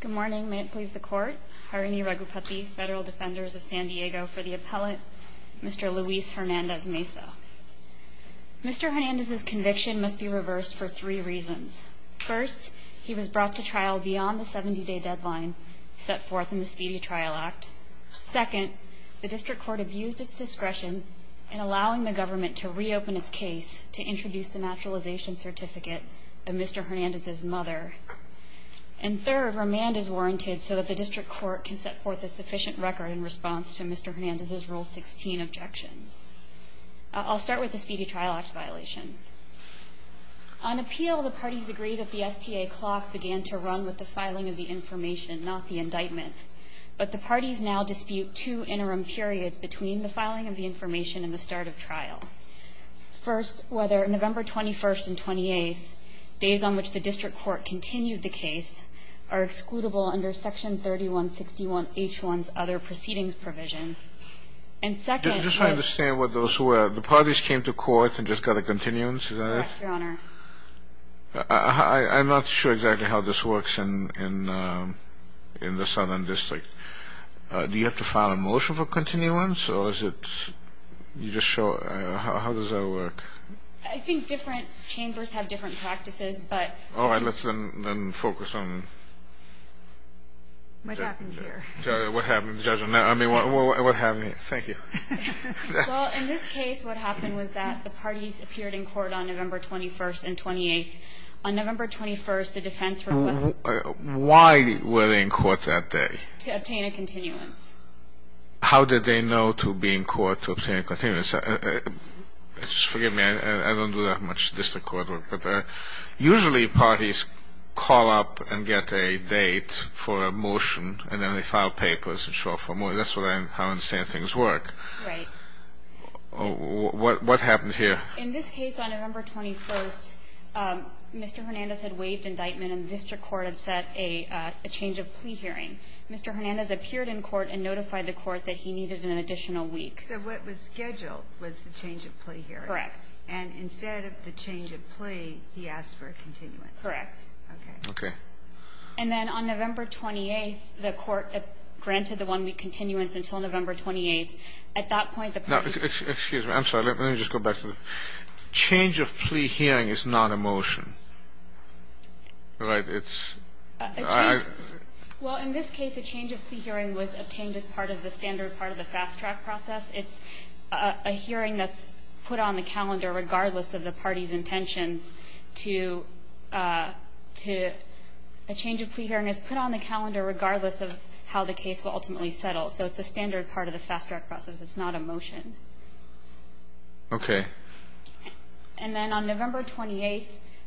Good morning, may it please the Court. Harini Raghupati, Federal Defenders of San Diego for the Appellate, Mr. Luis Hernandez-Meza. Mr. Hernandez's conviction must be reversed for three reasons. First, he was brought to trial beyond the 70-day deadline set forth in the Speedy Trial Act. Second, the District Court abused its discretion in allowing the government to reopen its case to introduce the naturalization certificate of Mr. Hernandez's mother. And third, remand is warranted so that the District Court can set forth a sufficient record in response to Mr. Hernandez's Rule 16 objections. I'll start with the Speedy Trial Act violation. On appeal, the parties agreed that the STA clock began to run with the filing of the information, not the indictment. But the parties now dispute two interim periods between the filing of the information and the start of trial. First, whether November 21st and 28th, days on which the District Court continued the case, are excludable under Section 3161H1's other proceedings provision. And second... Just so I understand what those were, the parties came to court and just got a continuance, is that it? Correct, Your Honor. I'm not sure exactly how this works in the Southern District. Do you have to file a motion for continuance, or is it... you just show... how does that work? I think different chambers have different practices, but... All right, let's then focus on... What happened here? What happened, Judge, on that? I mean, what happened here? Thank you. Well, in this case, what happened was that the parties appeared in court on November 21st and 28th. On November 21st, the defense... Why were they in court that day? To obtain a continuance. How did they know to be in court to obtain a continuance? Just forgive me. I don't do that much District Court work, but usually parties call up and get a date for a motion, and then they file papers and show up for a motion. That's how I understand things work. Right. What happened here? In this case, on November 21st, Mr. Hernandez had waived indictment, and the District Court had set a change of plea hearing. Mr. Hernandez appeared in court and notified the court that he needed an additional week. So what was scheduled was the change of plea hearing. Correct. And instead of the change of plea, he asked for a continuance. Correct. Okay. And then on November 28th, the court granted the one-week continuance until November 28th. At that point, the parties... Now, excuse me. I'm sorry. Let me just go back to the change of plea hearing is not a motion. Right? It's... Well, in this case, a change of plea hearing was obtained as part of the standard part of the fast-track process. It's a hearing that's put on the calendar regardless of the party's intentions to a change of plea hearing is put on the calendar regardless of how the case will ultimately settle. So it's a standard part of the fast-track process. It's not a motion. Okay. And then on November 28th,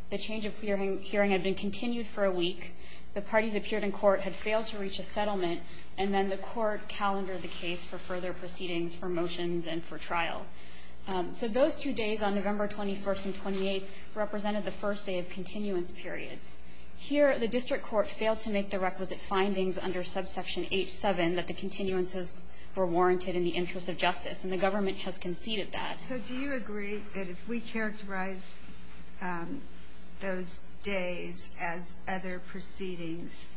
the change of plea hearing had been continued for a week. The parties appeared in court had failed to reach a settlement, and then the court calendared the case for further proceedings for motions and for trial. So those two days on November 21st and 28th represented the first day of continuance periods. Here, the district court failed to make the requisite findings under subsection H7 that the continuances were warranted in the interest of justice, and the government has conceded that. So do you agree that if we characterize those days as other proceedings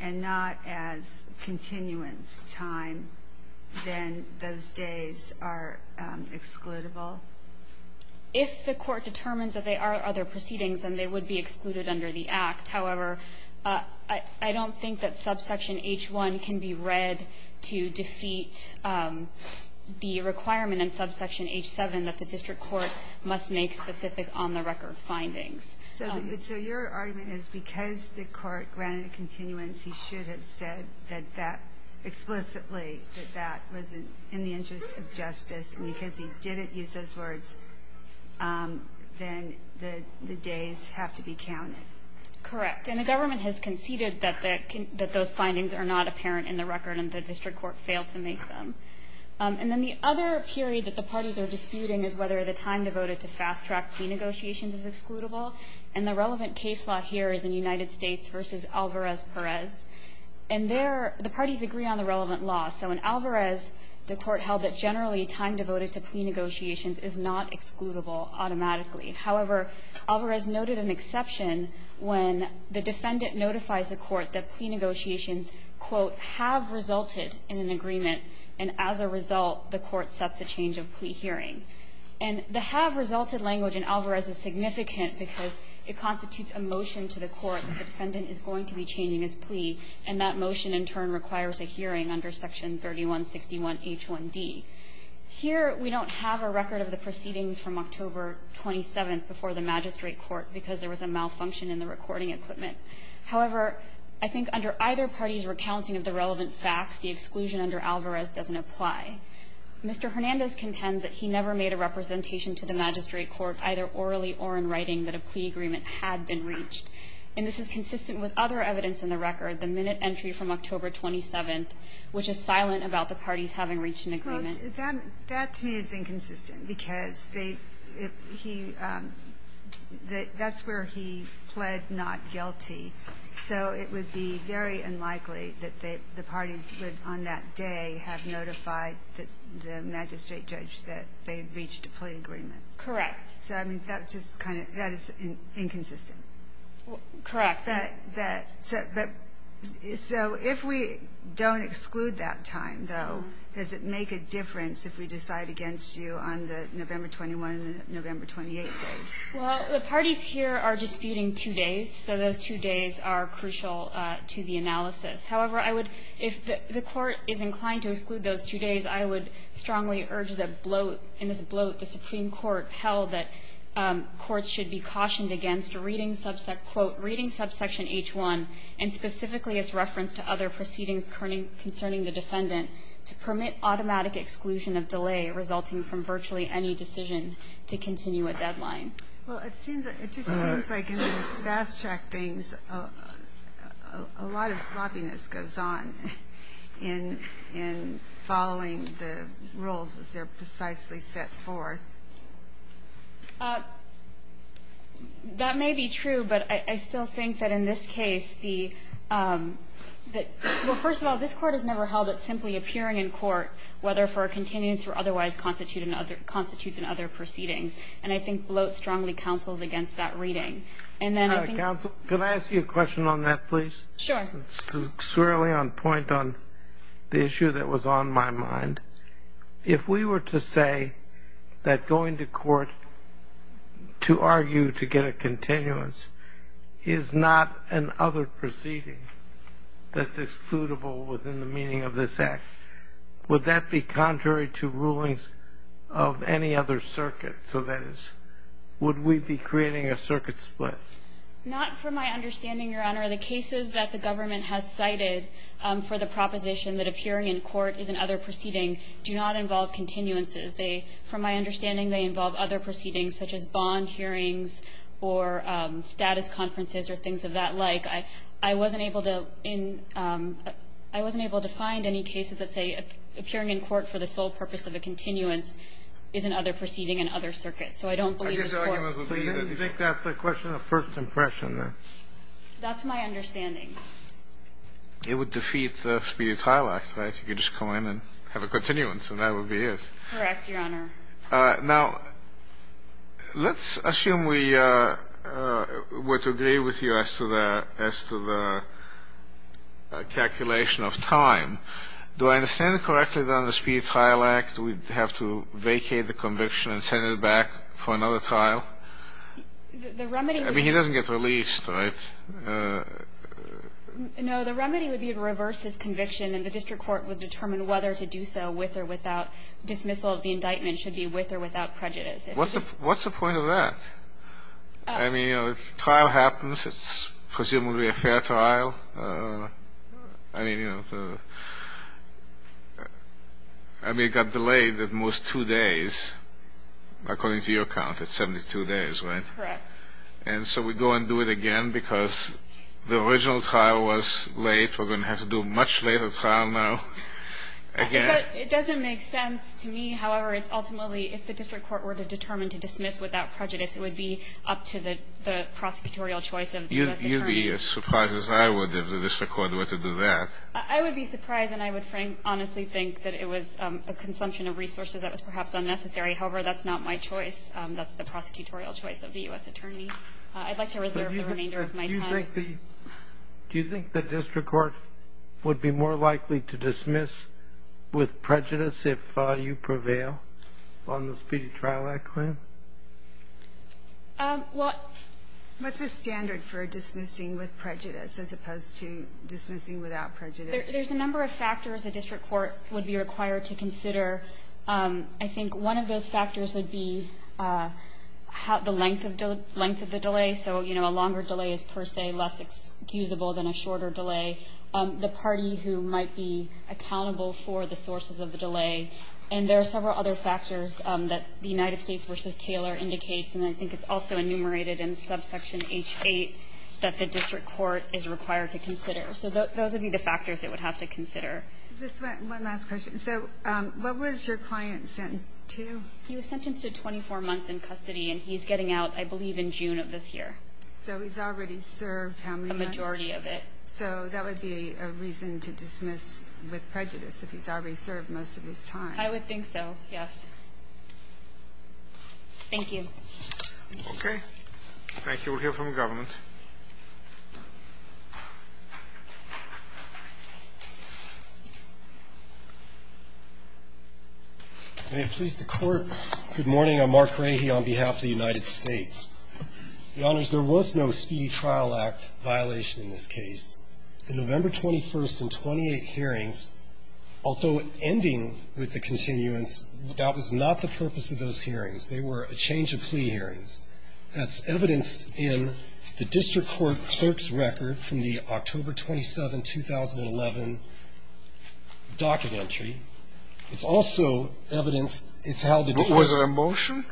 and not as continuance time, then those days are excludable? If the court determines that they are other proceedings, then they would be excluded under the Act. However, I don't think that subsection H1 can be read to defeat the requirement in subsection H7 that the district court must make specific on-the-record findings. So your argument is because the court granted continuance, he should have said that that explicitly, that that was in the interest of justice. And because he didn't use those words, then the days have to be counted. Correct. And the government has conceded that those findings are not apparent in the record and the district court failed to make them. And then the other period that the parties are disputing is whether the time devoted to fast-track plea negotiations is excludable. And the relevant case law here is in United States v. Alvarez-Perez. And there, the parties agree on the relevant law. So in Alvarez, the court held that generally time devoted to plea negotiations is not excludable automatically. However, Alvarez noted an exception when the defendant notifies the court that plea negotiations, quote, have resulted in an agreement, and as a result, the court sets a change of plea hearing. And the have resulted language in Alvarez is significant because it constitutes a motion to the court that the defendant is going to be changing his plea, and that motion in turn requires a hearing under section 3161H1D. Here, we don't have a record of the proceedings from October 27th before the magistrate court because there was a malfunction in the recording equipment. However, I think under either party's recounting of the relevant facts, the exclusion under Alvarez doesn't apply. Mr. Hernandez contends that he never made a representation to the magistrate court, either orally or in writing, that a plea agreement had been reached. And this is consistent with other evidence in the record, the minute entry from That, to me, is inconsistent because they, if he, that's where he pled not guilty, so it would be very unlikely that the parties would, on that day, have notified the magistrate judge that they had reached a plea agreement. Correct. So, I mean, that just kind of, that is inconsistent. Correct. That, so if we don't exclude that time, though, does it make a difference if we decide against you on the November 21 and the November 28 days? Well, the parties here are disputing two days, so those two days are crucial to the analysis. However, I would, if the court is inclined to exclude those two days, I would strongly urge the bloat, in this bloat, the Supreme Court held that courts should be cautioned against reading subsection, quote, reading subsection H1, and specifically its reference to other proceedings concerning the defendant, to permit automatic exclusion of delay resulting from virtually any decision to continue a deadline. Well, it seems, it just seems like in these fast-track things, a lot of sloppiness goes on in following the rules as they're precisely set forth. That may be true, but I still think that in this case, the, well, first of all, this Court has never held it simply appearing in court, whether for a continuance or otherwise constitutes in other proceedings. And I think bloat strongly counsels against that reading. And then I think the other thing is that the Supreme Court has never held that going to court to argue to get a continuance is not an other proceeding that's excludable within the meaning of this Act. Would that be contrary to rulings of any other circuit? So that is, would we be creating a circuit split? Not from my understanding, Your Honor. The cases that the government has cited for the proposition that appearing in court is an other proceeding do not involve continuances. They, from my understanding, they involve other proceedings such as bond hearings or status conferences or things of that like. I wasn't able to in, I wasn't able to find any cases that say appearing in court for the sole purpose of a continuance is an other proceeding, an other circuit. So I don't believe this Court. Do you think that's a question of first impression? That's my understanding. It would defeat the Speedy Tile Act, right? You could just go in and have a continuance and that would be it. Correct, Your Honor. Now, let's assume we were to agree with you as to the calculation of time. Do I understand correctly that on the Speedy Tile Act we'd have to vacate the conviction and send it back for another trial? The remedy would be. I mean, he doesn't get released, right? No. The remedy would be to reverse his conviction and the district court would determine whether to do so with or without dismissal of the indictment should be with or without prejudice. What's the point of that? I mean, you know, if a trial happens, it's presumably a fair trial. I mean, you know, I mean, it got delayed at most two days according to your count. It's 72 days, right? Correct. And so we go and do it again because the original trial was late. We're going to have to do a much later trial now again. It doesn't make sense to me. However, it's ultimately if the district court were to determine to dismiss without prejudice, it would be up to the prosecutorial choice of the U.S. attorney. You'd be as surprised as I would if the district court were to do that. I would be surprised and I would honestly think that it was a consumption of resources that was perhaps unnecessary. However, that's not my choice. That's the prosecutorial choice of the U.S. attorney. I'd like to reserve the remainder of my time. Do you think the district court would be more likely to dismiss with prejudice if you prevail on the Speedy Trial Act claim? Well What's the standard for dismissing with prejudice as opposed to dismissing without prejudice? There's a number of factors the district court would be required to consider. I think one of those factors would be the length of the delay. So, you know, a longer delay is per se less excusable than a shorter delay. The party who might be accountable for the sources of the delay. And there are several other factors that the United States v. Taylor indicates, and I think it's also enumerated in subsection H-8, that the district court is required to consider. So those would be the factors it would have to consider. One last question. So what was your client sentenced to? He was sentenced to 24 months in custody, and he's getting out, I believe, in June of this year. So he's already served how many months? A majority of it. So that would be a reason to dismiss with prejudice, if he's already served most of his time. I would think so, yes. Thank you. Okay. Thank you. We'll hear from the government. May it please the Court. Good morning. I'm Mark Rahe on behalf of the United States. Your Honors, there was no Speedy Trial Act violation in this case. The November 21st and 28 hearings, although ending with the continuance, that was not the purpose of those hearings. They were a change of plea hearings. That's evidenced in the district court clerk's record from the October 27, 2011 documentary. Was there a motion?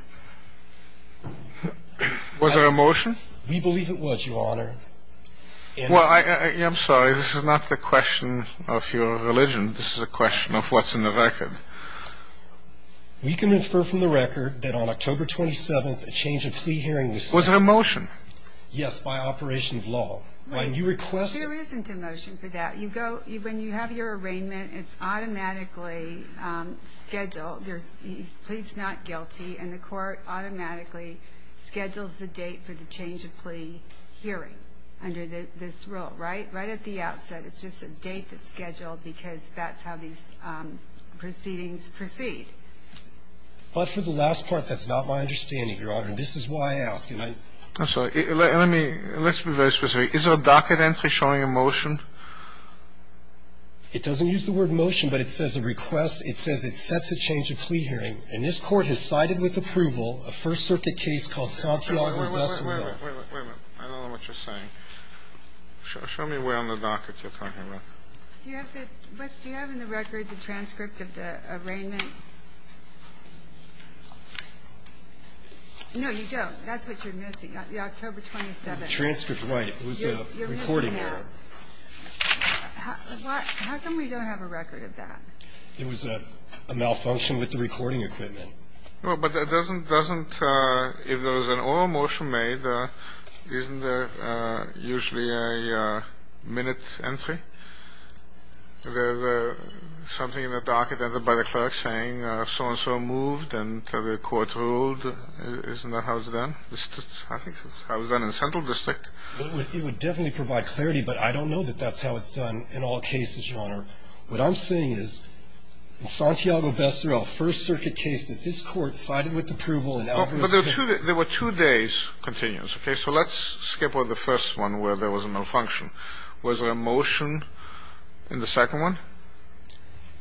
We believe it was, Your Honor. Well, I'm sorry, this is not the question of your religion. This is a question of what's in the record. We can infer from the record that on October 27th, a change of plea hearing was set. Was there a motion? Yes, by operation of law. There isn't a motion for that. When you have your arraignment, it's automatically scheduled. The plea is not guilty and the court automatically schedules the date for the change of plea hearing under this rule, right? Right at the outset. It's just a date that's scheduled because that's how these proceedings proceed. But for the last part, that's not my understanding, Your Honor, and this is why I ask. I'm sorry. Let's be very specific. Is there a docket entry showing a motion? It doesn't use the word motion, but it says a request. It says it sets a change of plea hearing, and this court has cited with approval a First Circuit case called Santiago-Bussell Hill. Wait a minute. I don't know what you're saying. Show me where on the docket you're talking about. Do you have in the record the transcript of the arraignment? No, you don't. That's what you're missing, the October 27th. Transcript, right. It was a recording. You're missing it. How come we don't have a record of that? It was a malfunction with the recording equipment. Well, but it doesn't, if there was an oral motion made, isn't there usually a minute entry? There's something in the docket by the clerk saying so-and-so moved and the court ruled. Isn't that how it's done? I think that's how it's done in the Central District. It would definitely provide clarity, but I don't know that that's how it's done in all cases, Your Honor. What I'm saying is, in Santiago-Bussell Hill, First Circuit case that this court cited with approval and Alvarez- But there were two days continuous, okay? So let's skip over the first one where there was a malfunction. Was there a motion in the second one?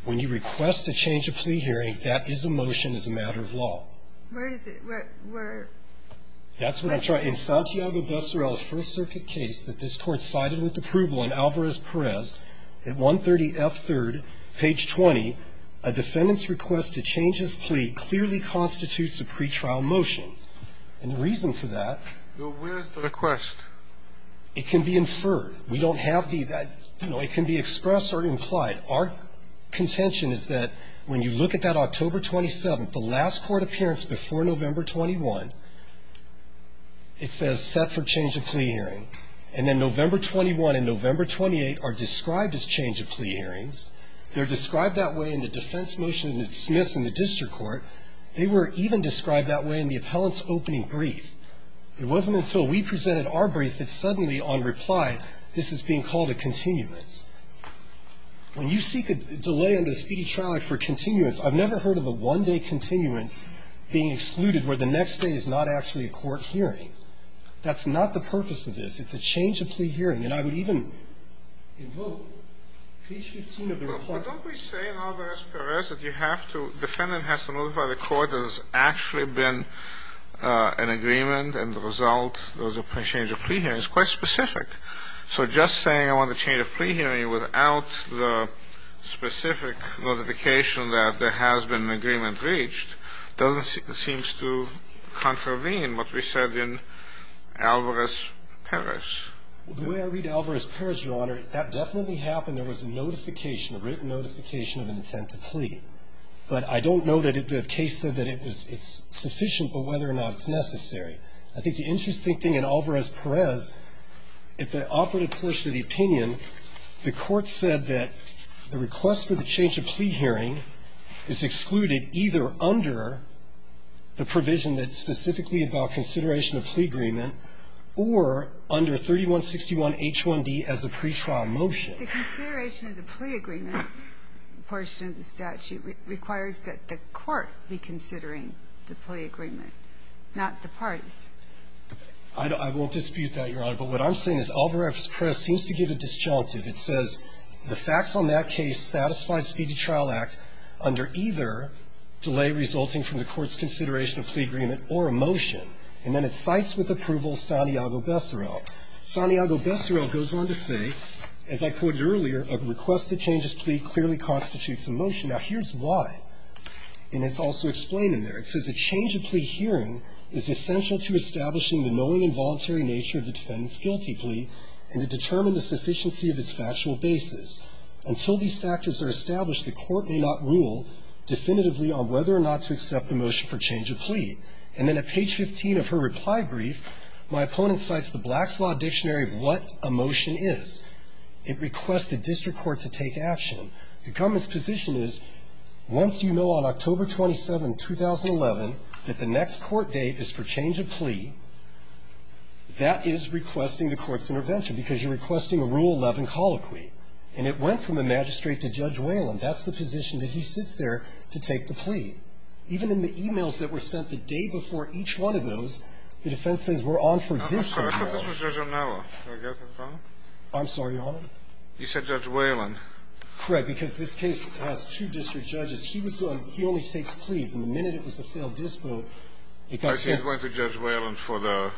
When you request a change of plea hearing, that is a motion as a matter of law. Where is it? Where? That's what I'm trying to say. In Santiago-Bussell Hill, First Circuit case that this court cited with approval and Alvarez-Perez, at 130F3rd, page 20, a defendant's request to change his plea clearly constitutes a pretrial motion. And the reason for that. Well, where is the request? It can be inferred. We don't have the, you know, it can be expressed or implied. Our contention is that when you look at that October 27th, the last court appearance before November 21, it says set for change of plea hearing. And then November 21 and November 28 are described as change of plea hearings. They're described that way in the defense motion that's dismissed in the district court. They were even described that way in the appellant's opening brief. It wasn't until we presented our brief that suddenly, on reply, this is being called a continuance. When you seek a delay under the Speedy Trial Act for continuance, I've never heard of a one-day continuance being excluded where the next day is not actually a court hearing. That's not the purpose of this. It's a change of plea hearing. And I would even invoke page 15 of the reply. But don't we say in Alvarez-Perez that you have to, defendant has to notify the court there's actually been an agreement and the result was a change of plea hearing. It's quite specific. So just saying I want to change a plea hearing without the specific notification that there has been an agreement reached doesn't seem to contravene what we said in Alvarez-Perez. The way I read Alvarez-Perez, Your Honor, that definitely happened. There was a notification, a written notification of an intent to plea. But I don't know that the case said that it's sufficient, but whether or not it's necessary. I think the interesting thing in Alvarez-Perez, if the operative pushed to the opinion, the court said that the request for the change of plea hearing is excluded either under the provision that's specifically about consideration of plea agreement or under 3161H1D as a pretrial motion. The consideration of the plea agreement portion of the statute requires that the court be considering the plea agreement, not the parties. I won't dispute that, Your Honor. But what I'm saying is Alvarez-Perez seems to give a disjunctive. It says the facts on that case satisfy the Speedy Trial Act under either delay resulting from the court's consideration of plea agreement or a motion. And then it cites with approval Santiago-Bessarel. Santiago-Bessarel goes on to say, as I quoted earlier, a request to change this plea clearly constitutes a motion. Now, here's why. And it's also explained in there. It says a change of plea hearing is essential to establishing the knowing and voluntary nature of the defendant's guilty plea and to determine the sufficiency of its factual basis. Until these factors are established, the court may not rule definitively on whether or not to accept a motion for change of plea. And then at page 15 of her reply brief, my opponent cites the Black's Law Dictionary of what a motion is. It requests the district court to take action. The government's position is once you know on October 27, 2011, that the next court date is for change of plea, that is requesting the court's intervention because you're requesting a Rule 11 colloquy. And it went from the magistrate to Judge Whalen. That's the position that he sits there to take the plea. Even in the e-mails that were sent the day before each one of those, the defense says we're on for dispo. Kennedy. I'm sorry, Your Honor. You said Judge Whalen. Correct. Because this case has two district judges. He was going to be only takes pleas. And the minute it was a failed dispo, it got sent. Okay. He's going to Judge Whalen for the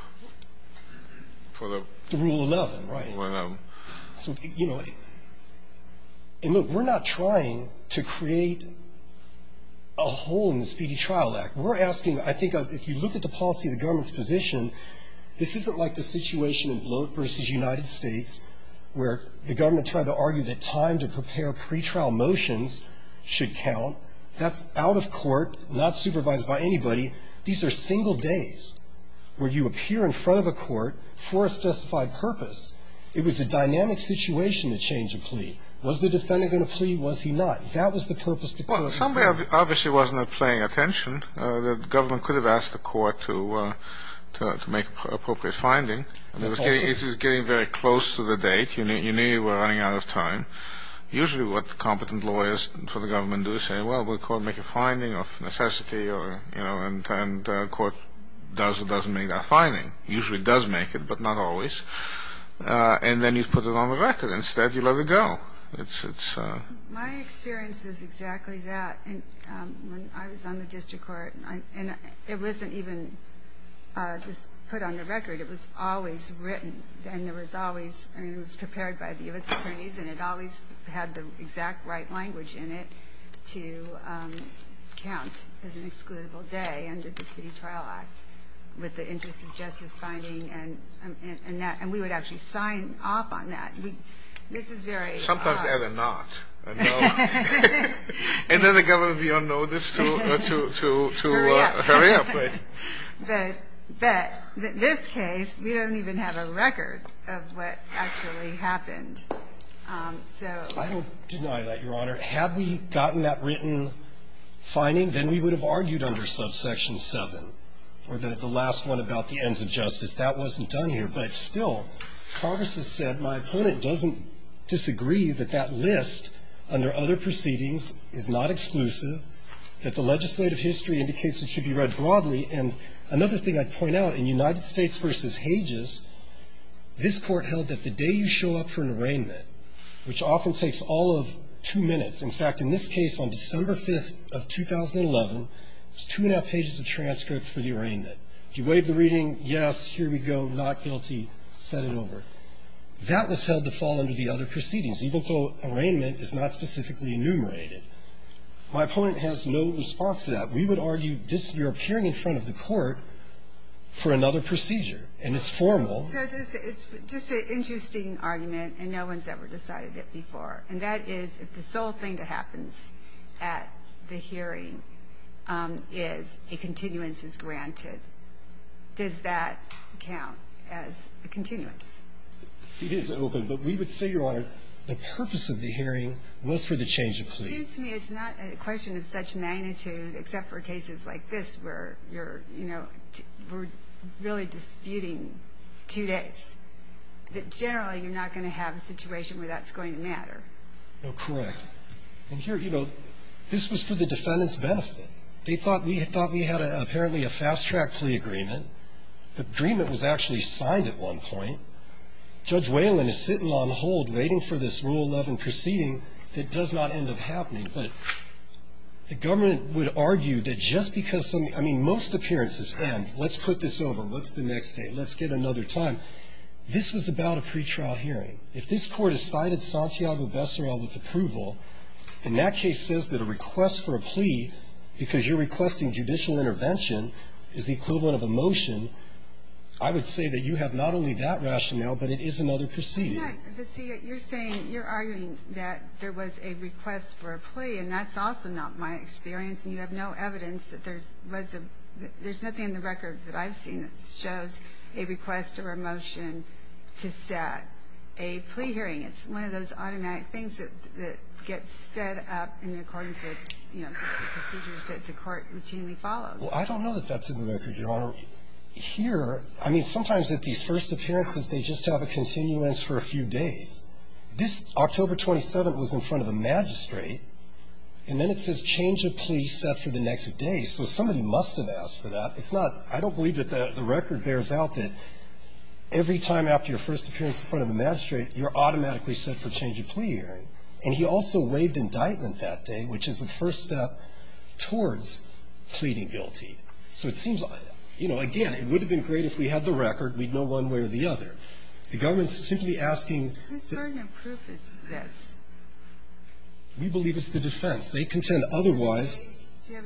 rule 11, right? Rule 11. So, you know, and look, we're not trying to create a hole in the Speedy Trial Act. We're asking, I think, if you look at the policy of the government's position, this isn't like the situation in Bloat v. United States where the government tried to argue that time to prepare pretrial motions should count. That's out of court, not supervised by anybody. These are single days where you appear in front of a court for a specified purpose. It was a dynamic situation to change a plea. Was the defendant going to plea? Was he not? That was the purpose of the plea. Well, somebody obviously wasn't paying attention. The government could have asked the court to make appropriate finding. That's also true. It was getting very close to the date. You knew you were running out of time. Usually what competent lawyers for the government do is say, well, will the court make a finding of necessity or, you know, and the court does or doesn't make that finding. Usually it does make it, but not always. And then you put it on the record. Instead, you let it go. My experience is exactly that. When I was on the district court, and it wasn't even just put on the record. It was always written. It was prepared by the U.S. attorneys, and it always had the exact right language in it to count as an excludable day under the City Trial Act with the interest of justice finding. And we would actually sign off on that. This is very odd. Sometimes add a not. And then the government would be on notice to hurry up. But in this case, we don't even have a record of what actually happened. So. I don't deny that, Your Honor. Had we gotten that written finding, then we would have argued under subsection 7 or the last one about the ends of justice. That wasn't done here. But still, Congress has said my opponent doesn't disagree that that list under other proceedings is not exclusive, that the legislative history indicates it should be read broadly, and another thing I'd point out, in United States v. Hages, this court held that the day you show up for an arraignment, which often takes all of two minutes. In fact, in this case, on December 5th of 2011, it was two and a half pages of transcript for the arraignment. If you waived the reading, yes, here we go, not guilty, set it over. That was held to fall under the other proceedings, even though arraignment is not specifically enumerated. My opponent has no response to that. We would argue this, you're appearing in front of the court for another procedure, and it's formal. It's just an interesting argument, and no one's ever decided it before. And that is if the sole thing that happens at the hearing is a continuance is granted, does that count as a continuance? It is open. But we would say, Your Honor, the purpose of the hearing was for the change of plea. It seems to me it's not a question of such magnitude except for cases like this where you're, you know, we're really disputing two days, that generally you're not going to have a situation where that's going to matter. Correct. And here, you know, this was for the defendant's benefit. They thought we had apparently a fast-track plea agreement. The agreement was actually signed at one point. Judge Whalen is sitting on hold waiting for this Rule 11 proceeding that does not end up happening, but the government would argue that just because some, I mean, most appearances end. Let's put this over. What's the next date? Let's get another time. This was about a pretrial hearing. If this Court has cited Santiago Becerral with approval, and that case says that a request for a plea because you're requesting judicial intervention is the equivalent of a motion, I would say that you have not only that rationale, but it is another procedure. Yeah, but see, you're saying, you're arguing that there was a request for a plea, and that's also not my experience, and you have no evidence that there was a – there's nothing in the record that I've seen that shows a request or a motion to set a plea hearing. It's one of those automatic things that gets set up in accordance with, you know, just the procedures that the Court routinely follows. Well, I don't know that that's in the record, Your Honor. Here, I mean, sometimes at these first appearances, they just have a continuance for a few days. This October 27th was in front of a magistrate, and then it says change of plea set for the next day. So somebody must have asked for that. It's not – I don't believe that the record bears out that every time after your first appearance in front of a magistrate, you're automatically set for a change of plea hearing. And he also waived indictment that day, which is a first step towards pleading guilty. So it seems, you know, again, it would have been great if we had the record. We'd know one way or the other. The government's simply asking that the defense, they contend otherwise. I have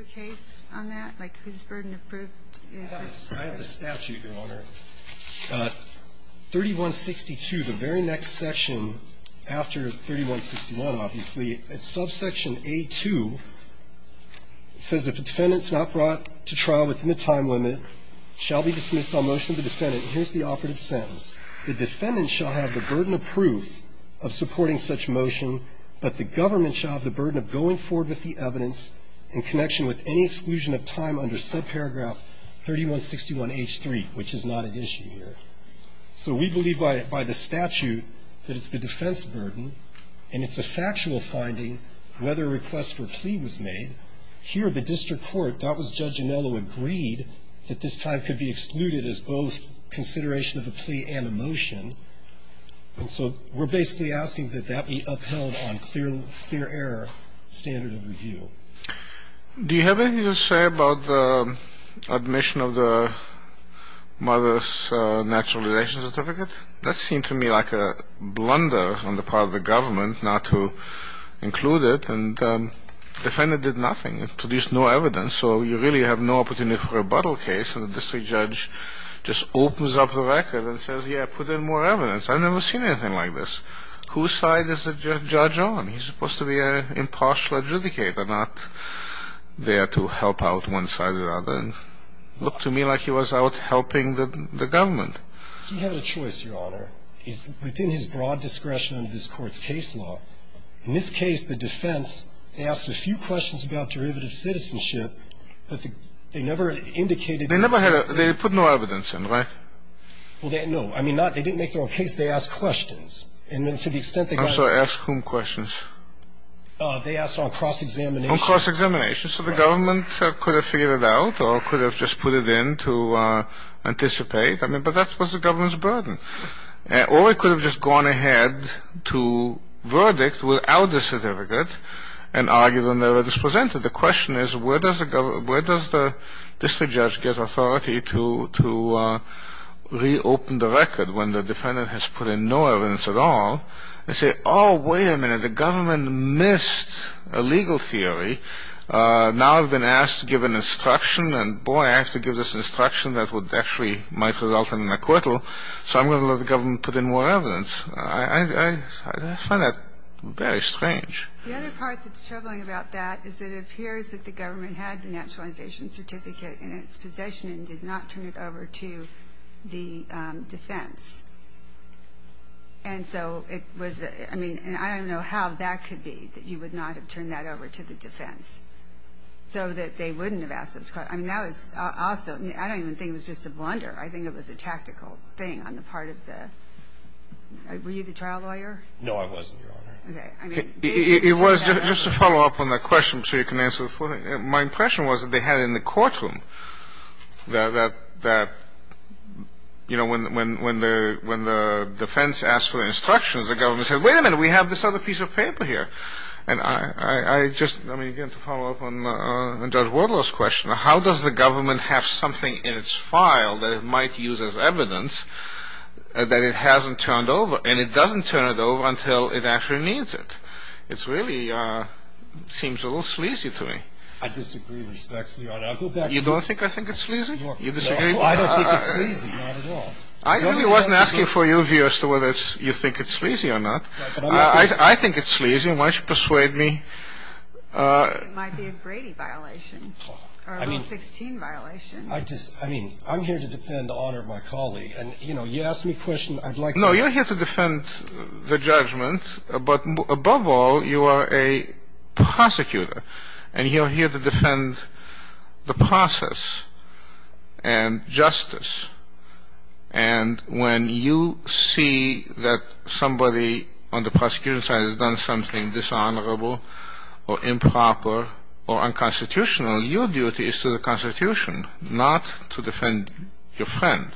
a statute, Your Honor. 3162, the very next section after 3161, obviously, it's subsection A-2. It says if a defendant's not brought to trial within the time limit, shall be dismissed on motion of the defendant. Here's the operative sentence. The defendant shall have the burden of proof of supporting such motion, but the government shall have the burden of going forward with the evidence in connection with any exclusion of time under subparagraph 3161H3, which is not at issue here. So we believe by the statute that it's the defense burden, and it's a factual finding, whether a request for a plea was made. Here, the district court, that was Judge Anello, agreed that this time could be excluded as both consideration of a plea and a motion. And so we're basically asking that that be upheld on clear air standard of review. Do you have anything to say about the admission of the mother's naturalization certificate? That seemed to me like a blunder on the part of the government not to include it. And the defendant did nothing. It produced no evidence. So you really have no opportunity for a rebuttal case. And the district judge just opens up the record and says, yeah, put in more evidence. I've never seen anything like this. Whose side is the judge on? He's supposed to be an impartial adjudicator, not there to help out one side or the other. And it looked to me like he was out helping the government. He had a choice, Your Honor. He's within his broad discretion under this court's case law. In this case, the defense asked a few questions about derivative citizenship, but they never indicated that. They put no evidence in, right? Well, no. I mean, they didn't make their own case. They asked questions. And to the extent they got it. I'm sorry. Ask whom questions? They asked on cross-examination. On cross-examination. So the government could have figured it out or could have just put it in to anticipate. I mean, but that was the government's burden. Or it could have just gone ahead to verdict without a certificate and argued on the evidence presented. The question is, where does the district judge get authority to reopen the record when the defendant has put in no evidence at all? They say, oh, wait a minute. The government missed a legal theory. Now I've been asked to give an instruction. And, boy, I have to give this instruction that would actually might result in an acquittal. So I'm going to let the government put in more evidence. I find that very strange. The other part that's troubling about that is it appears that the government had the naturalization certificate in its possession and did not turn it over to the defense. And so it was the ‑‑ I mean, I don't even know how that could be, that you would not have turned that over to the defense so that they wouldn't have asked those questions. I mean, that was awesome. I don't even think it was just a blunder. I think it was a tactical thing on the part of the ‑‑ were you the trial lawyer? No, I wasn't, Your Honor. Okay. I mean, basically ‑‑ It was. Just to follow up on that question, I'm sure you can answer this one. My impression was that they had it in the courtroom that, you know, when the defense asked for instructions, the government said, wait a minute, we have this other piece of paper here. And I just, I mean, again, to follow up on Judge Wardlow's question, how does the government have something in its file that it might use as evidence that it hasn't turned over and it doesn't turn it over until it actually needs it? It really seems a little sleazy to me. I disagree respectfully, Your Honor. You don't think I think it's sleazy? I don't think it's sleazy, not at all. I really wasn't asking for your view as to whether you think it's sleazy or not. I think it's sleazy. Why don't you persuade me? It might be a Brady violation or a Rule 16 violation. I mean, I'm here to defend the honor of my colleague. And, you know, you asked me a question, I'd like to ‑‑ No, you're here to defend the judgment. But above all, you are a prosecutor. And you're here to defend the process and justice. And when you see that somebody on the prosecution side has done something dishonorable or improper or unconstitutional, your duty is to the Constitution, not to defend your friend.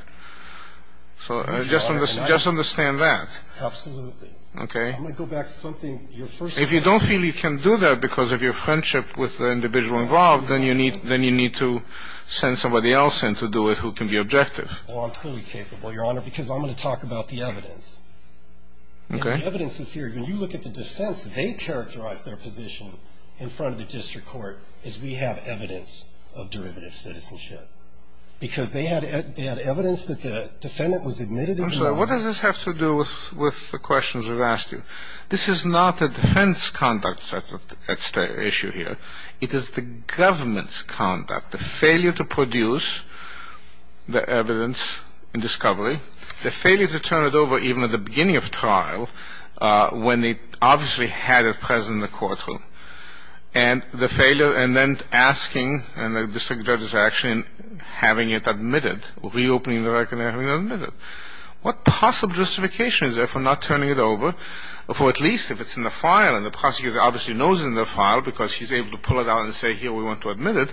So just understand that. Absolutely. Okay. I'm going to go back to something your first question. If you don't feel you can do that because of your friendship with the individual involved, then you need to send somebody else in to do it who can be objective. Well, I'm fully capable, Your Honor, because I'm going to talk about the evidence. Okay. And the evidence is here. When you look at the defense, they characterize their position in front of the district court as we have evidence of derivative citizenship. Because they had evidence that the defendant was admitted as a ‑‑ What does this have to do with the questions we've asked you? This is not a defense conduct issue here. It is the government's conduct, the failure to produce the evidence and discovery, the failure to turn it over even at the beginning of trial when they obviously had it present in the courtroom, and the failure and then asking, and the district judge's action, having it admitted, reopening the record and having it admitted. What possible justification is there for not turning it over, for at least if it's in the file and the prosecutor obviously knows it's in the file because he's able to pull it out and say, here, we want to admit it,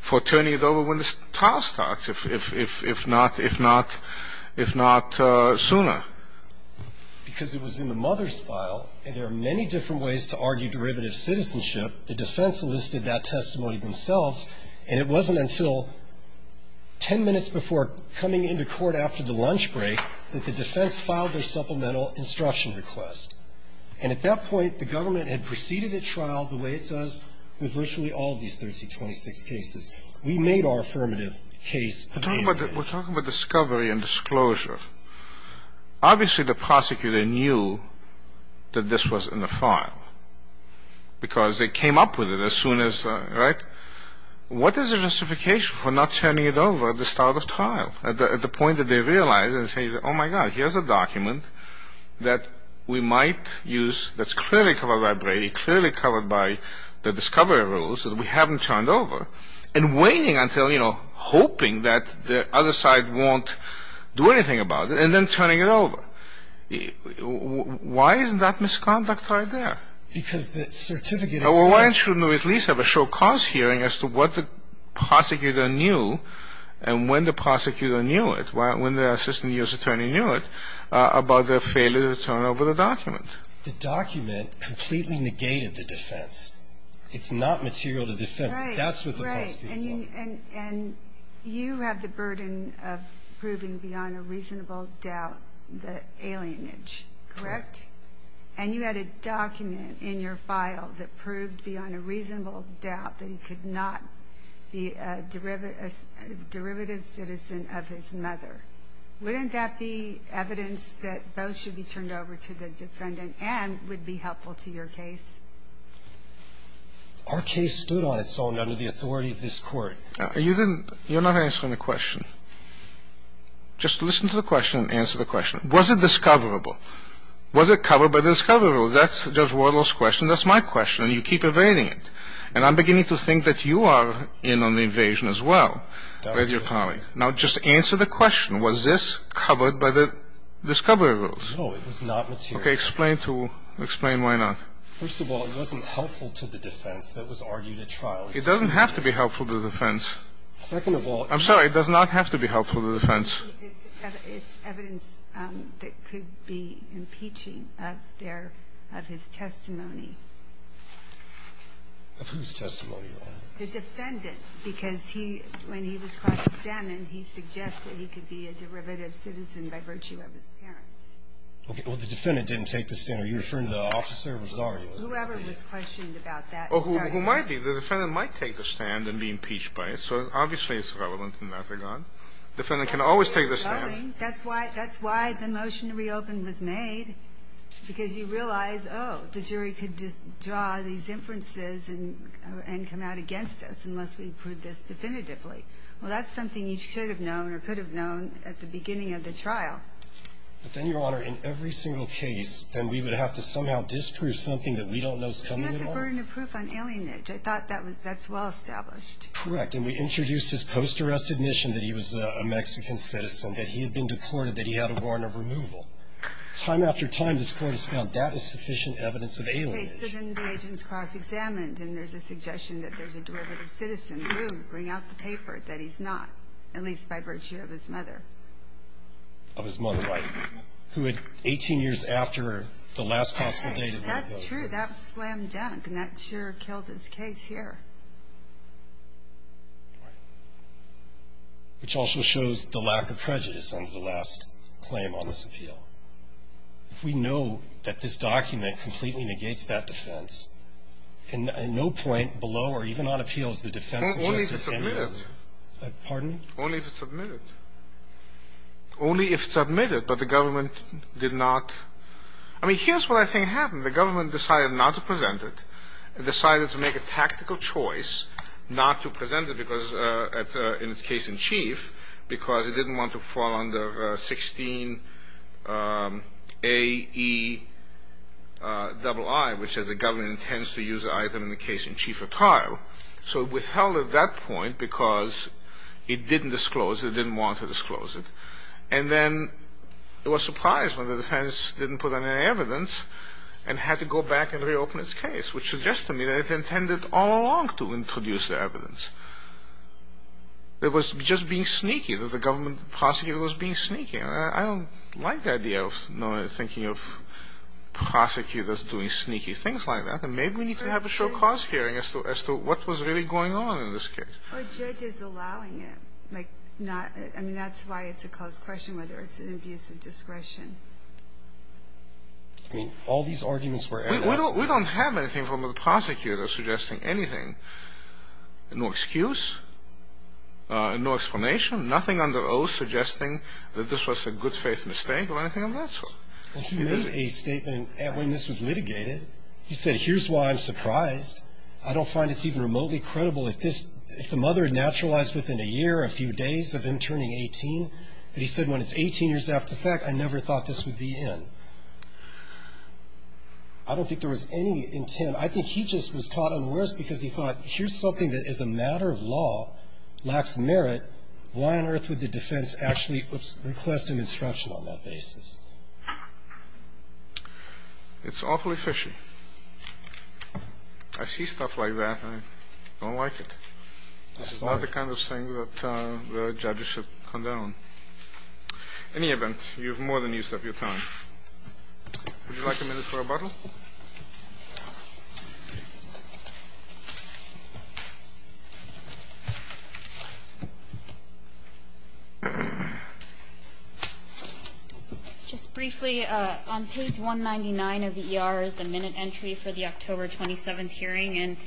for turning it over when the trial starts, if not sooner? Because it was in the mother's file, and there are many different ways to argue derivative citizenship. The defense listed that testimony themselves, and it wasn't until ten minutes before coming into court after the lunch break that the defense filed their supplemental instruction request. And at that point, the government had proceeded at trial the way it does with virtually all of these 1326 cases. We made our affirmative case. We're talking about discovery and disclosure. Obviously, the prosecutor knew that this was in the file because they came up with it as soon as, right? What is the justification for not turning it over at the start of trial at the point that they realize and say, oh, my God, here's a document that we might use that's clearly covered by Brady, clearly covered by the discovery rules that we haven't turned over, and waiting until, you know, hoping that the other side won't do anything about it, and then turning it over? Why isn't that misconduct right there? Because the certificate itself — Well, why shouldn't we at least have a show-cause hearing as to what the prosecutor knew and when the prosecutor knew it, when the assistant U.S. attorney knew it, about the failure to turn over the document? The document completely negated the defense. It's not material to defense. That's what the prosecutor thought. And you have the burden of proving beyond a reasonable doubt the alienage, correct? Correct. And you had a document in your file that proved beyond a reasonable doubt that he could not be a derivative citizen of his mother. Wouldn't that be evidence that both should be turned over to the defendant and would be helpful to your case? Our case stood on its own under the authority of this Court. You didn't — you're not answering the question. Just listen to the question and answer the question. Was it discoverable? Was it covered by the discovery rules? That's Judge Wardlow's question. That's my question, and you keep evading it. And I'm beginning to think that you are in on the evasion as well with your colleague. Now, just answer the question. Was this covered by the discovery rules? No, it was not material. Okay. Explain to — explain why not. First of all, it wasn't helpful to the defense. That was argued at trial. It doesn't have to be helpful to the defense. Second of all — I'm sorry. It does not have to be helpful to the defense. It's evidence that could be impeaching of their — of his testimony. Of whose testimony, Your Honor? The defendant. Because he — when he was cross-examined, he suggested he could be a derivative citizen by virtue of his parents. Okay. Well, the defendant didn't take the stand. Are you referring to the officer, which is argued? Whoever was questioned about that. Oh, who might be. The defendant might take the stand and be impeached by it. So obviously it's relevant in that regard. Defendant can always take the stand. That's why — that's why the motion to reopen was made, because you realize, oh, the jury could draw these inferences and come out against us unless we prove this definitively. Well, that's something you should have known or could have known at the beginning of the trial. But then, Your Honor, in every single case, then we would have to somehow disprove something that we don't know is coming at all. You have the burden of proof on alienage. I thought that was — that's well-established. Correct. And we introduced his post-arrest admission that he was a Mexican citizen, that he had been deported, that he had a warrant of removal. Time after time, this Court has found that is sufficient evidence of alienage. Okay. So then the agent's cross-examined, and there's a suggestion that there's a derivative citizen who would bring out the paper that he's not, at least by virtue of his mother. Of his mother. Right. Who had 18 years after the last possible date of that vote. Okay. That's true. That slammed down. And that sure killed his case here. Right. Which also shows the lack of prejudice under the last claim on this appeal. If we know that this document completely negates that defense, and no point below or even on appeal is the defense of Justice Henry. Only if it's admitted. Pardon? Only if it's admitted. Only if it's admitted, but the government did not. I mean, here's what I think happened. The government decided not to present it. It decided to make a tactical choice not to present it because, in its case in chief, because it didn't want to fall under 16AEII, which says the government intends to use the item in the case in chief at trial. So it withheld at that point because it didn't disclose, it didn't want to disclose it. And then it was surprised when the defense didn't put in any evidence and had to go back and reopen its case, which suggests to me that it intended all along to introduce the evidence. It was just being sneaky, that the government prosecutor was being sneaky. I don't like the idea of thinking of prosecutors doing sneaky things like that. Maybe we need to have a sure cause hearing as to what was really going on in this case. Or judges allowing it. I mean, that's why it's a close question whether it's an abuse of discretion. I mean, all these arguments were evidence. We don't have anything from the prosecutor suggesting anything. No excuse. No explanation. Nothing under oath suggesting that this was a good faith mistake or anything of that sort. Well, he made a statement when this was litigated. He said, here's why I'm surprised. I don't find it's even remotely credible. If the mother had naturalized within a year or a few days of him turning 18, but he said when it's 18 years after the fact, I never thought this would be in. I don't think there was any intent. I think he just was caught unawares because he thought, here's something that is a matter of law, lacks merit, why on earth would the defense actually request an instruction on that basis? It's awfully fishy. I see stuff like that. I don't like it. It's not the kind of thing that the judges should condone. In any event, you have more than used up your time. Would you like a minute for a bottle? Just briefly, on page 199 of the ER is the minute entry for the October 27th hearing, and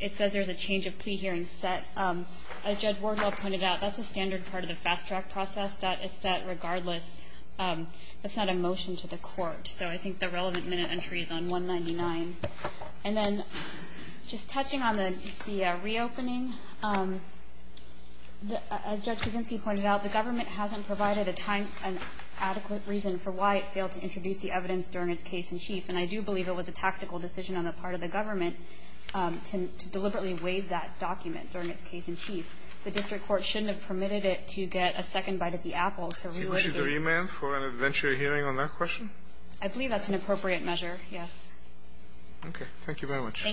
it says there's a change of plea hearing set. As Judge Wardwell pointed out, that's a standard part of the fast track process that is set regardless. That's not a motion to the court. So I think the relevant minute entry is on 199. And then just touching on the reopening, as Judge Kaczynski pointed out, the government hasn't provided a time and adequate reason for why it failed to introduce the evidence during its case in chief. And I do believe it was a tactical decision on the part of the government to deliberately waive that document during its case in chief. The district court shouldn't have permitted it to get a second bite at the apple to relitigate. I believe that's an appropriate measure, yes. Okay. Thank you very much.